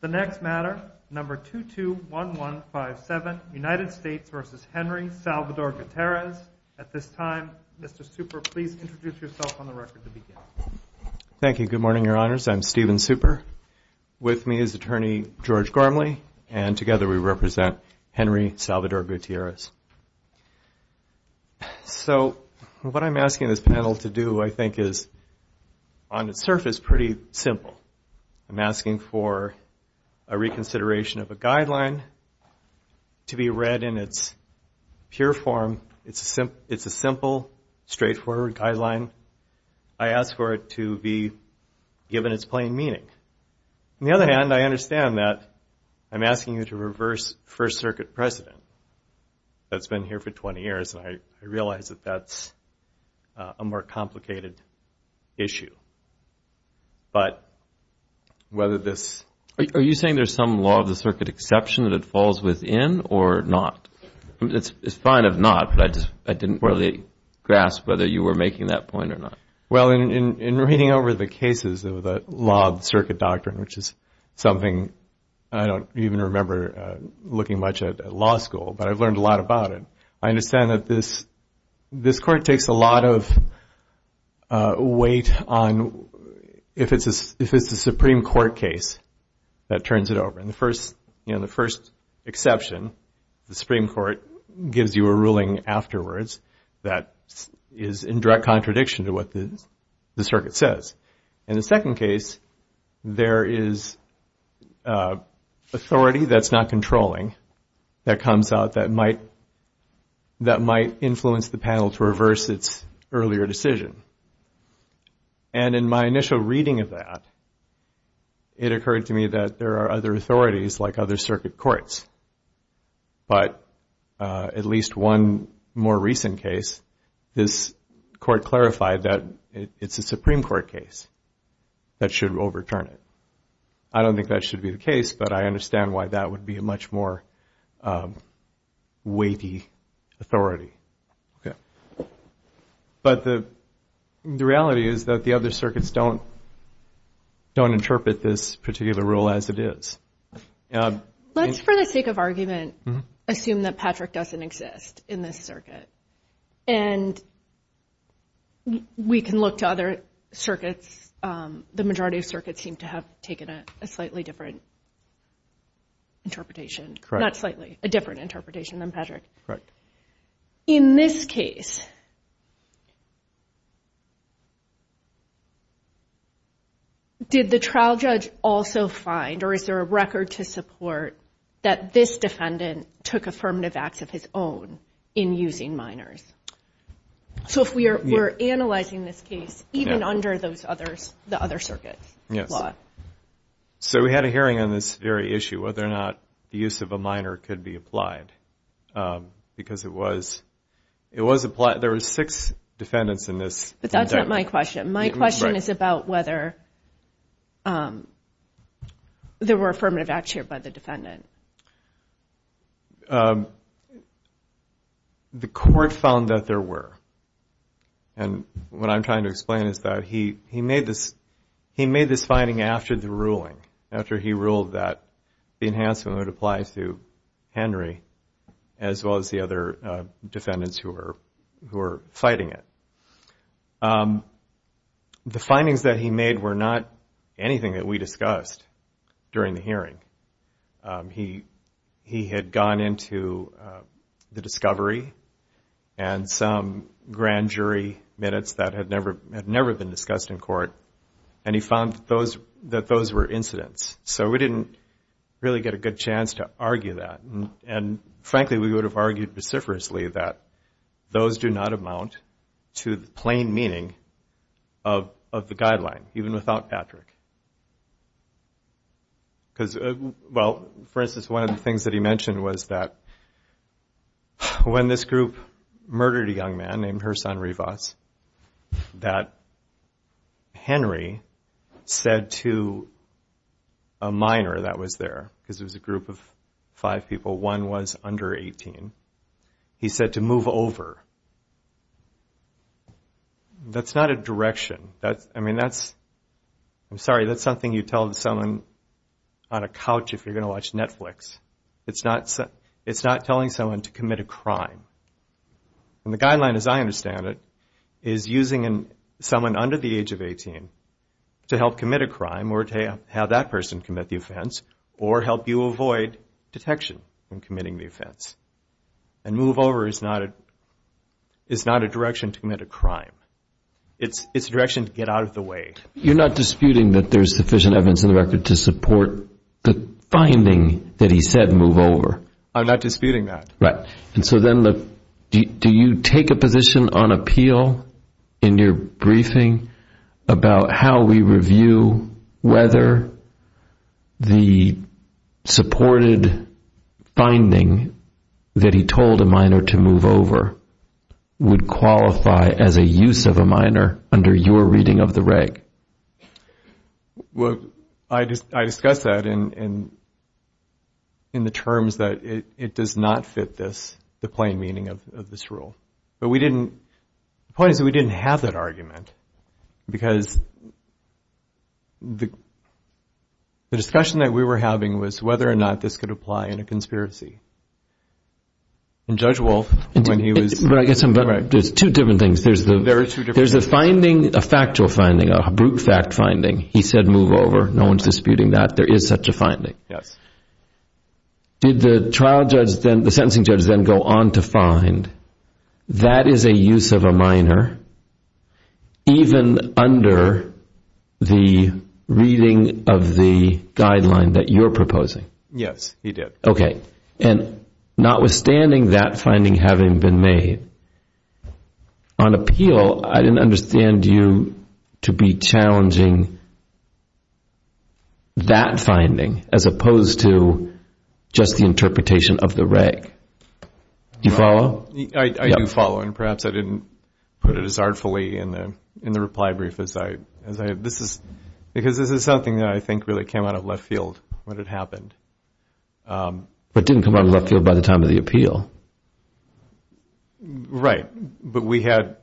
The next matter, number 221157, United States v. Henry Salvador Gutierrez. At this time, Mr. Super, please introduce yourself on the record to begin. Thank you. Good morning, Your Honors. I'm Stephen Super. With me is Attorney George Gormley, and together we represent Henry Salvador Gutierrez. So, what I'm asking this panel to do, I think, is, on the surface, is pretty simple. I'm asking for a reconsideration of a guideline to be read in its pure form. It's a simple, straightforward guideline. I ask for it to be given its plain meaning. On the other hand, I understand that I'm asking you to reverse First Circuit precedent that's been here for 20 years, and I realize that that's a more complicated issue. But whether this... Are you saying there's some law of the circuit exception that it falls within or not? It's fine if not, but I didn't really grasp whether you were making that point or not. Well, in reading over the cases of the law of the circuit doctrine, which is something I don't even remember looking much at law school, but I've learned a lot about it, I understand that this court takes a lot of weight on if it's a Supreme Court case that turns it over. In the first exception, the Supreme Court gives you a ruling afterwards that is in direct contradiction to what the circuit says. In the second case, there is authority that's not controlling that comes out that might influence the panel to reverse its earlier decision. And in my initial reading of that, it occurred to me that there are other authorities like other circuit courts, but at least one more recent case, this court clarified that it's a Supreme Court case that should overturn it. I don't think that should be the case, but I understand why that would be a much more weighty authority. But the reality is that the other circuits don't interpret this particular rule as it is. Let's, for the sake of argument, assume that Patrick doesn't exist in this circuit. And we can look to other circuits. The majority of circuits seem to have taken a slightly different interpretation. Not slightly, a different interpretation than Patrick. Did the trial judge also find, or is there a record to support, that this defendant took affirmative acts of his own in using minors? So if we're analyzing this case, even under the other circuits? Yes. So we had a hearing on this very issue, whether or not the use of a minor could be applied. Because it was applied. There were six defendants in this. But that's not my question. My question is about whether there were affirmative acts here by the defendant. The court found that there were. And what I'm trying to explain is that he made this finding after the ruling. After he ruled that the enhancement would apply to Henry, as well as the other defendants who were fighting it. The findings that he made were not anything that we discussed during the hearing. He had gone into the discovery and some grand jury minutes that had never been discussed in court. And he found that those were incidents. So we didn't really get a good chance to argue that. And frankly, we would have argued vociferously that those do not amount to the plain meaning of the guideline, even without Patrick. For instance, one of the things that he mentioned was that when this group murdered a young man, named Herson Rivas, that Henry said to a minor that was there, because it was a group of five people, one was under 18, he said to move over. That's not a direction. I'm sorry, that's something you tell someone on a couch if you're going to watch Netflix. It's not telling someone to commit a crime. And the guideline, as I understand it, is using someone under the age of 18 to help commit a crime or to have that person commit the offense, or help you avoid detection in committing the offense. And move over is not a direction to commit a crime. It's a direction to get out of the way. You're not disputing that there's sufficient evidence in the record to support the finding that he said move over. I'm not disputing that. Right. And so then do you take a position on appeal in your briefing about how we review whether the supported finding that he told a minor to move over would qualify as a use of a minor under your reading of the reg? Well, I discussed that in the terms that it does not fit this, the plain meaning of this rule. But the point is that we didn't have that argument. Because the discussion that we were having was whether or not this could apply in a conspiracy. And Judge Wolf, when he was... But I guess there's two different things. There's a factual finding, a brute fact finding. He said move over. No one's disputing that. There is such a finding. Did the sentencing judge then go on to find that is a use of a minor even under the reading of the guideline that you're proposing? Yes, he did. Okay. And notwithstanding that finding having been made, on appeal I didn't understand you to be challenging that finding as opposed to just the interpretation of the reg. Do you follow? I do follow. And perhaps I didn't put it as artfully in the reply brief as I... But it didn't come out of left field by the time of the appeal. Right. But we had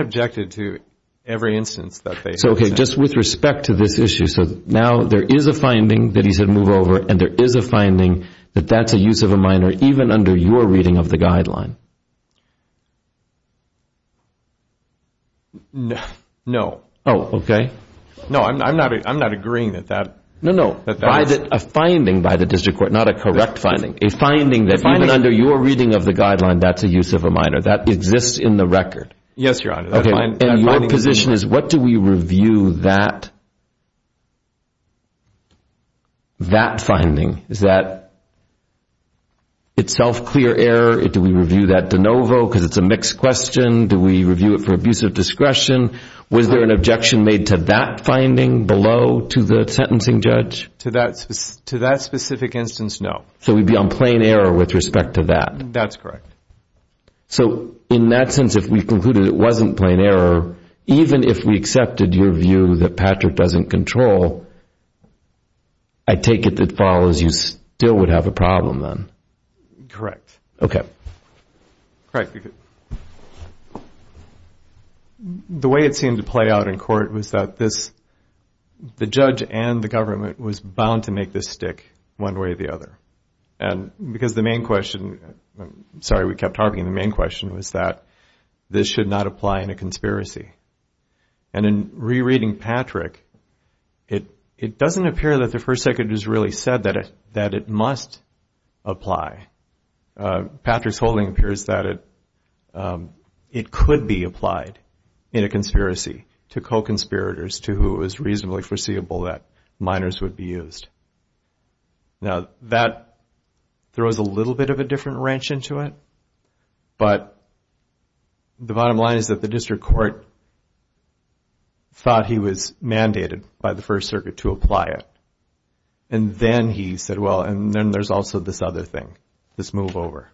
objected to every instance that they... So, okay, just with respect to this issue. So now there is a finding that he said move over and there is a finding that that's a use of a minor even under your reading of the guideline. No. Oh, okay. No, I'm not agreeing that that... No, no. A finding by the district court, not a correct finding. A finding that even under your reading of the guideline that's a use of a minor. That exists in the record. Yes, Your Honor. Okay. And your position is what do we review that finding? Is that itself clear error? Do we review that de novo because it's a mixed question? Do we review it for abuse of discretion? Was there an objection made to that finding below to the sentencing judge? To that specific instance, no. So we'd be on plain error with respect to that? That's correct. So in that sense, if we concluded it wasn't plain error, even if we accepted your view that Patrick doesn't control, I take it that follows you still would have a problem then? Correct. Okay. The way it seemed to play out in court was that the judge and the government was bound to make this stick one way or the other. And because the main question, sorry we kept harping, the main question was that this should not apply in a conspiracy. And in rereading Patrick, it doesn't appear that the First Secretary has really said that it must apply. Patrick's holding appears that it could be applied in a conspiracy to co-conspirators to who is reasonably foreseeable that minors would be used. Now that throws a little bit of a different wrench into it. But the bottom line is that the district court thought he was mandated by the First Circuit to apply it. And then he said, well, and then there's also this other thing, this move over.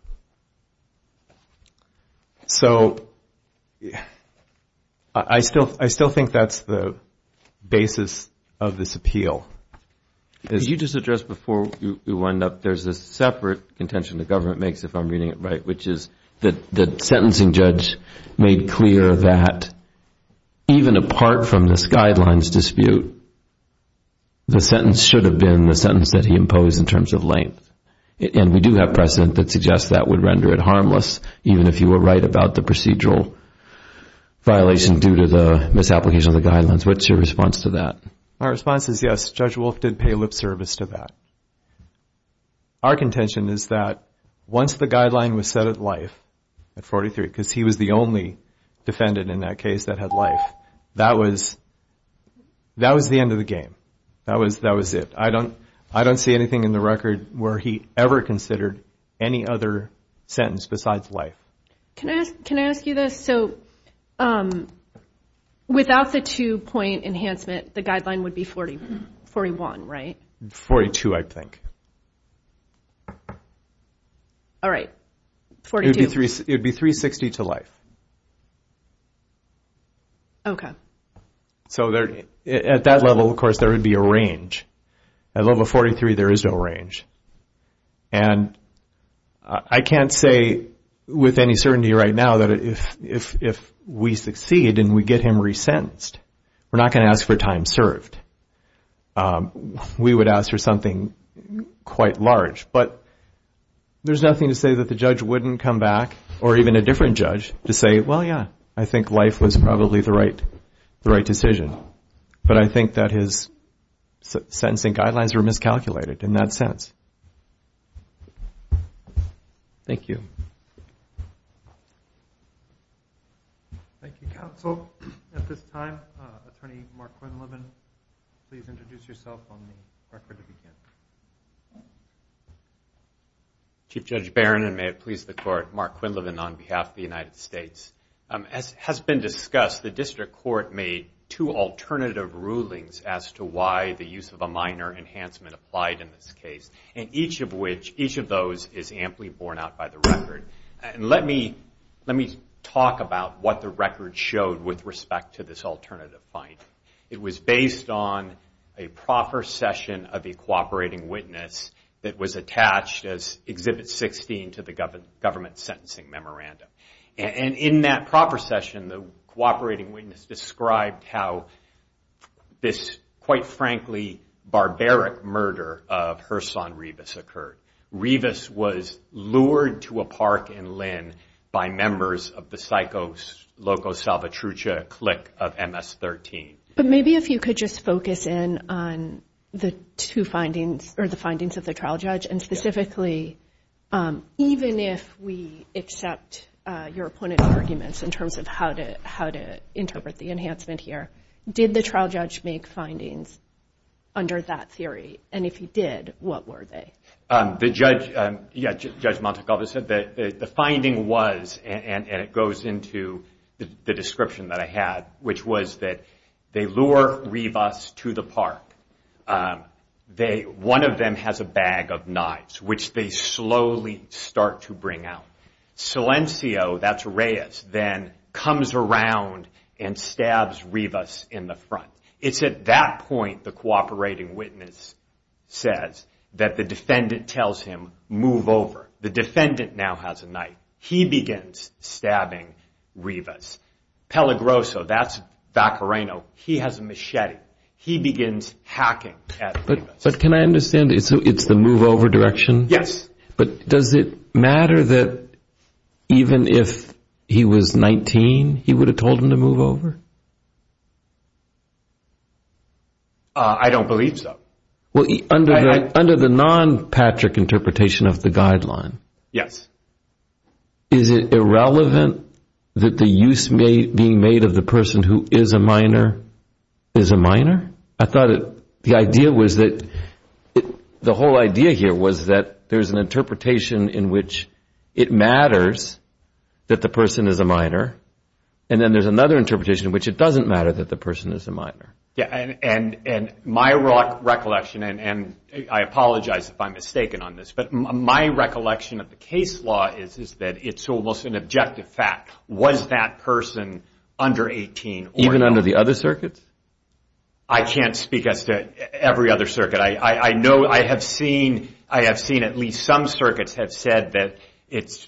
So I still think that's the basis of this appeal. Could you just address before we wind up, there's a separate contention the government makes, if I'm reading it right, which is that the sentencing judge made clear that even apart from this guidelines dispute, the sentence should not apply. It should have been the sentence that he imposed in terms of length. And we do have precedent that suggests that would render it harmless, even if you were right about the procedural violation due to the misapplication of the guidelines. What's your response to that? My response is yes, Judge Wolf did pay lip service to that. Our contention is that once the guideline was set at life, at 43, because he was the only defendant in that case that had life, that was the end of the game. I don't see anything in the record where he ever considered any other sentence besides life. Can I ask you this? So without the two-point enhancement, the guideline would be 41, right? 42, I think. All right, 42. It would be 360 to life. So at that level, of course, there would be a range. At level 43, there is no range. And I can't say with any certainty right now that if we succeed and we get him resentenced, we're not going to ask for time served. We would ask for something quite large. But there's nothing to say that the judge wouldn't come back, or even a different judge, to say, well, yeah, I think life was probably the right decision. But I think that his sentencing guidelines were miscalculated in that sense. Thank you. Thank you, counsel. At this time, Attorney Mark Quinlivan, please introduce yourself on the record to begin. Chief Judge Barron, and may it please the Court, Mark Quinlivan on behalf of the United States. As has been discussed, the district court made two alternative rulings as to why the use of a minor enhancement applied in this case. And each of those is amply borne out by the record. And let me talk about what the record showed with respect to this alternative finding. It was based on a proper session of a cooperating witness that was attached as Exhibit 16 to the government sentencing memorandum. And in that proper session, the cooperating witness described how this, quite frankly, barbaric murder of Herson Rivas occurred. Rivas was lured to a park in Lynn by members of the Psychos Logos Salvatrucha clique of MS-13. But maybe if you could just focus in on the two findings, or the findings of the trial judge, and specifically, even if we accept your opponent's arguments in terms of how to interpret the enhancement here, did the trial judge make findings under that theory? The judge, yeah, Judge Montegova said that the finding was, and it goes into the description that I had, which was that they lure Rivas to the park. One of them has a bag of knives, which they slowly start to bring out. Silencio, that's Reyes, then comes around and stabs Rivas in the front. It's at that point the cooperating witness says that the defendant tells him, move over. The defendant now has a knife. He begins stabbing Rivas. Peligroso, that's Vacareno, he has a machete. He begins hacking at Rivas. But can I understand, it's the move over direction? Yes. But does it matter that even if he was 19, he would have told him to move over? I don't believe so. Under the non-Patrick interpretation of the guideline, is it irrelevant that the use being made of the person who is a minor is a minor? I thought the idea was that the whole idea here was that there's an interpretation in which it matters that the person is a minor, and then there's another interpretation in which it doesn't matter that the person is a minor. And my recollection, and I apologize if I'm mistaken on this, but my recollection of the case law is that it's almost an objective fact. Was that person under 18? Even under the other circuits? I can't speak as to every other circuit. I have seen at least some circuits have said that it's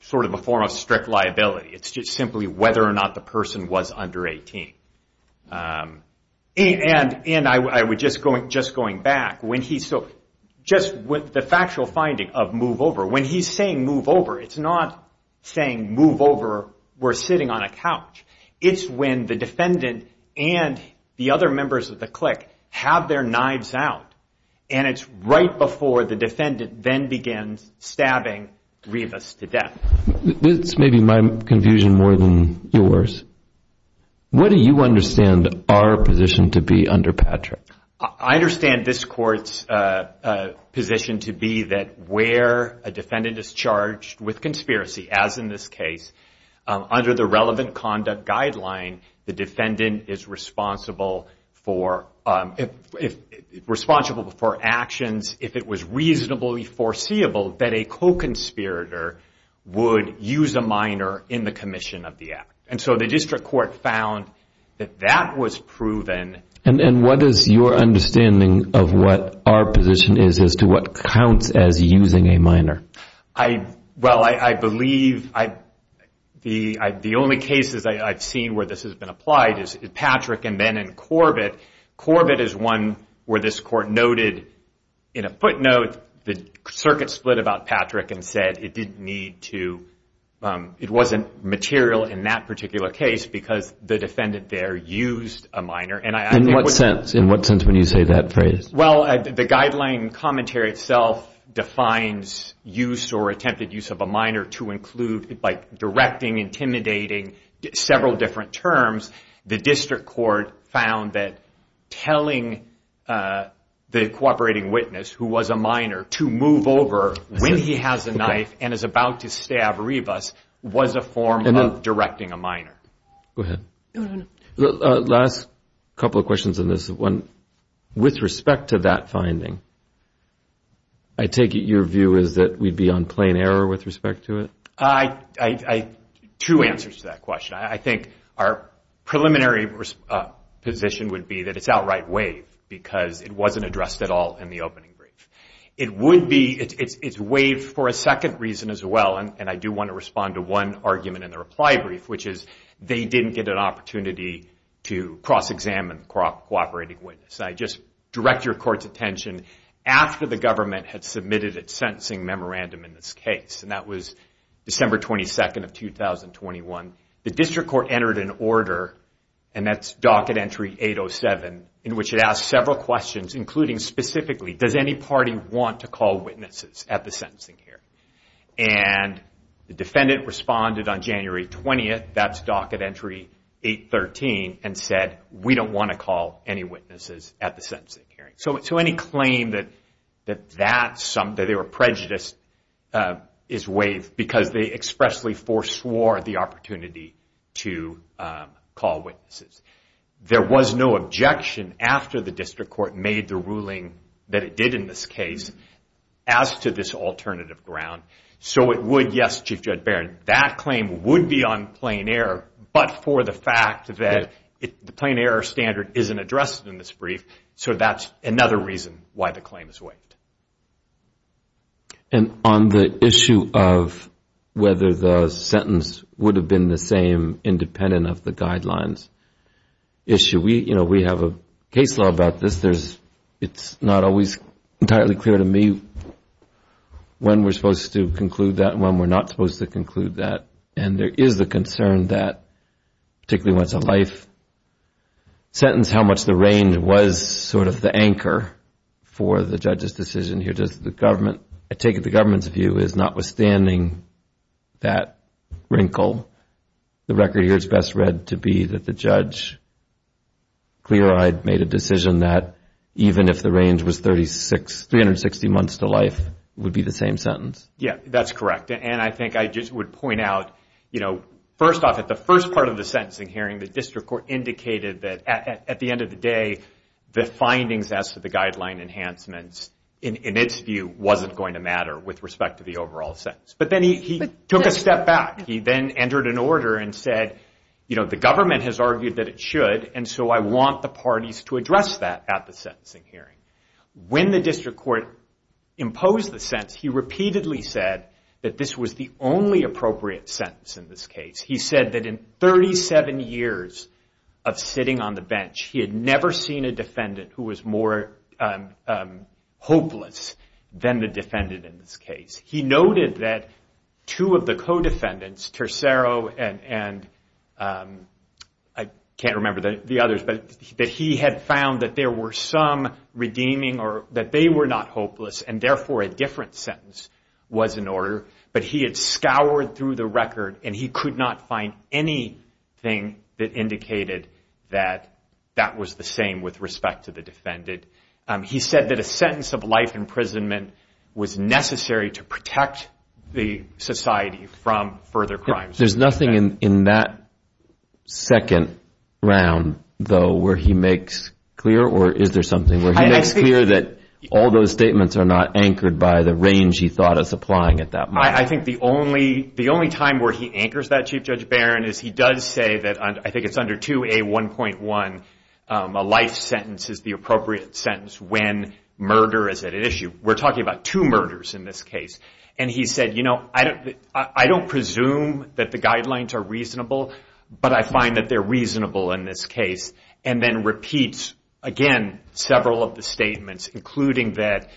sort of a form of strict liability. It's just simply whether or not the person was under 18. Just going back, the factual finding of move over, when he's saying move over, it's not saying move over, we're sitting on a couch. It's when the defendant and the other members of the clique have their knives out, and it's right before the defendant then begins stabbing Rivas to death. This may be my confusion more than yours. What do you understand our position to be under Patrick? I understand this court's position to be that where a defendant is charged with conspiracy, as in this case, under the relevant conduct guideline, the defendant is responsible for actions, if it was reasonably foreseeable, that a co-conspirator would use a minor in the commission of the act. And so the district court found that that was proven. And what is your understanding of what our position is as to what counts as using a minor? Well, I believe the only cases I've seen where this has been applied is Patrick, and then in Corbett. Corbett is one where this court noted in a footnote the circuit split about Patrick and said it didn't need to, it wasn't material in that particular case because the defendant there used a minor. In what sense, when you say that phrase? Well, the guideline commentary itself defines use or attempted use of a minor to include directing, intimidating, several different terms. The district court found that telling the cooperating witness who was a minor to move over when he has a knife and is about to stab Rivas was a form of directing a minor. Last couple of questions on this one. With respect to that finding, I take it your view is that we'd be on plain error with respect to it? Two answers to that question. I think our preliminary position would be that it's outright waived because it wasn't addressed at all in the opening brief. It's waived for a second reason as well, and I do want to respond to one argument in the reply brief, which is they didn't get an opportunity to cross-examine the cooperating witness. I just direct your court's attention, after the government had submitted its sentencing memorandum in this case, and that was December 22nd of 2021, the district court entered an order, and that's docket entry 807, in which it asked several questions, including specifically, does any party want to call witnesses at the sentencing here? And the defendant responded on January 20th, that's docket entry 813, and said, we don't want to call any witnesses at the sentencing hearing. So any claim that they were prejudiced is waived, because they expressly foreswore the opportunity to call witnesses. There was no objection after the district court made the ruling that it did in this case, as to this alternative ground, so it would, yes, Chief Judge Barron, that claim would be on plain error, but for the fact that the plain error standard isn't addressed in this brief, so that's another reason why the claim is waived. And on the issue of whether the sentence would have been the same independent of the guidelines issue, we have a case law about this, it's not always entirely clear to me when we're supposed to conclude that, and when we're not supposed to conclude that, and there is the concern that, particularly when it's a life sentence, how much the reign was sort of the anchor for the judge's decision, here does the government, I take it the government's view is notwithstanding that wrinkle, the record here is best read to be that the judge clear-eyed made a decision that, even if the reign was 360 months to life, it would be the same sentence. Yeah, that's correct, and I think I just would point out, you know, first off, at the first part of the sentencing hearing, the district court indicated that, at the end of the day, the findings as to the guideline enhancements, in its view, wasn't going to matter with respect to the overall sentence. But then he took a step back, he then entered an order and said, you know, the government has argued that it should, and so I want the parties to address that at the sentencing hearing. When the district court imposed the sentence, he repeatedly said that this was the only appropriate sentence in this case. He said that in 37 years of sitting on the bench, he had never seen a defendant who was more hopeless than the defendant in this case. He noted that two of the co-defendants, Tercero and, I can't remember the others, but that he had found that there were some redeeming, or that they were not hopeless, and therefore a different sentence was in order, but he had scoured through the record, and he could not find anything that indicated that that was the same with respect to the defendant. He said that a sentence of life imprisonment was necessary to protect the society from further crimes. There's nothing in that second round, though, where he makes clear, or is there something where he makes clear that all those statements are not anchored by the range he thought of supplying at that moment? I think the only time where he anchors that, Chief Judge Barron, is he does say that, I think it's under 2A1.1, a life sentence is the appropriate sentence when murder is at issue. We're talking about two murders in this case, and he said, you know, I don't presume that the guidelines are reasonable, but I find that they're reasonable in this case, and then repeats, again, several of the statements, including that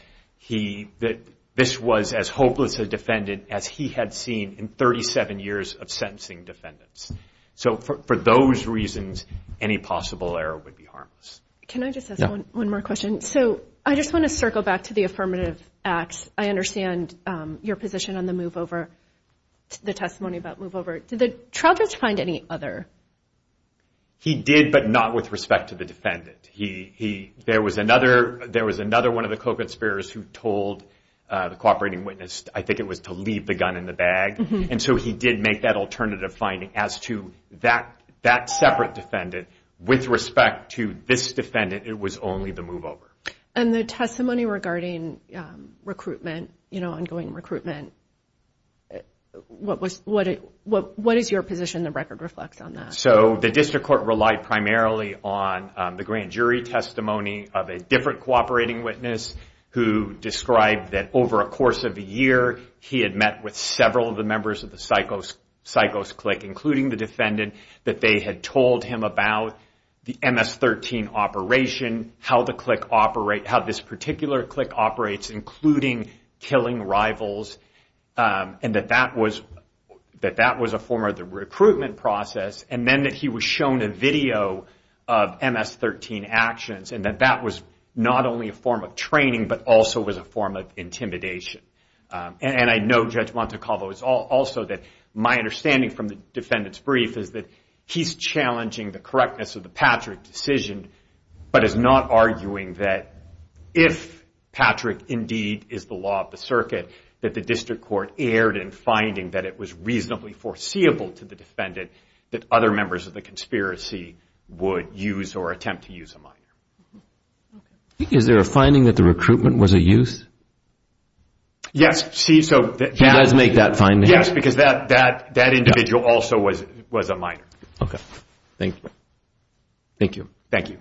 this was as hopeless a defendant as he had seen in 37 years of sentencing defendants. So for those reasons, any possible error would be harmless. Can I just ask one more question? So I just want to circle back to the affirmative acts. I understand your position on the move over, the testimony about move over. Did the trial judge find any other? He did, but not with respect to the defendant. There was another one of the co-conspirators who told the cooperating witness, I think it was to leave the gun in the bag, and so he did make that alternative finding as to that separate defendant. With respect to this defendant, it was only the move over. And the testimony regarding recruitment, ongoing recruitment, what is your position the record reflects on that? So the district court relied primarily on the grand jury testimony of a different cooperating witness who described that over a course of a year, he had met with several of the members of the psychos clique, including the defendant, that they had told him about the MS-13 operation, how the clique operates, how this particular clique operates, including killing rivals, and that that was a form of the recruitment process, and then that he was shown a video of MS-13 actions, and that that was not only a form of training, but also was a form of intimidation. And I know Judge Montecalvo, it's also that my understanding from the defendant's brief, is that he's challenging the correctness of the Patrick decision, but is not arguing that if Patrick indeed is the law of the circuit, that the district court erred in finding that it was reasonably foreseeable to the defendant that other members of the conspiracy would use or attempt to use a minor. Is there a finding that the recruitment was a use? Yes, because that individual also was a minor. Okay. Thank you.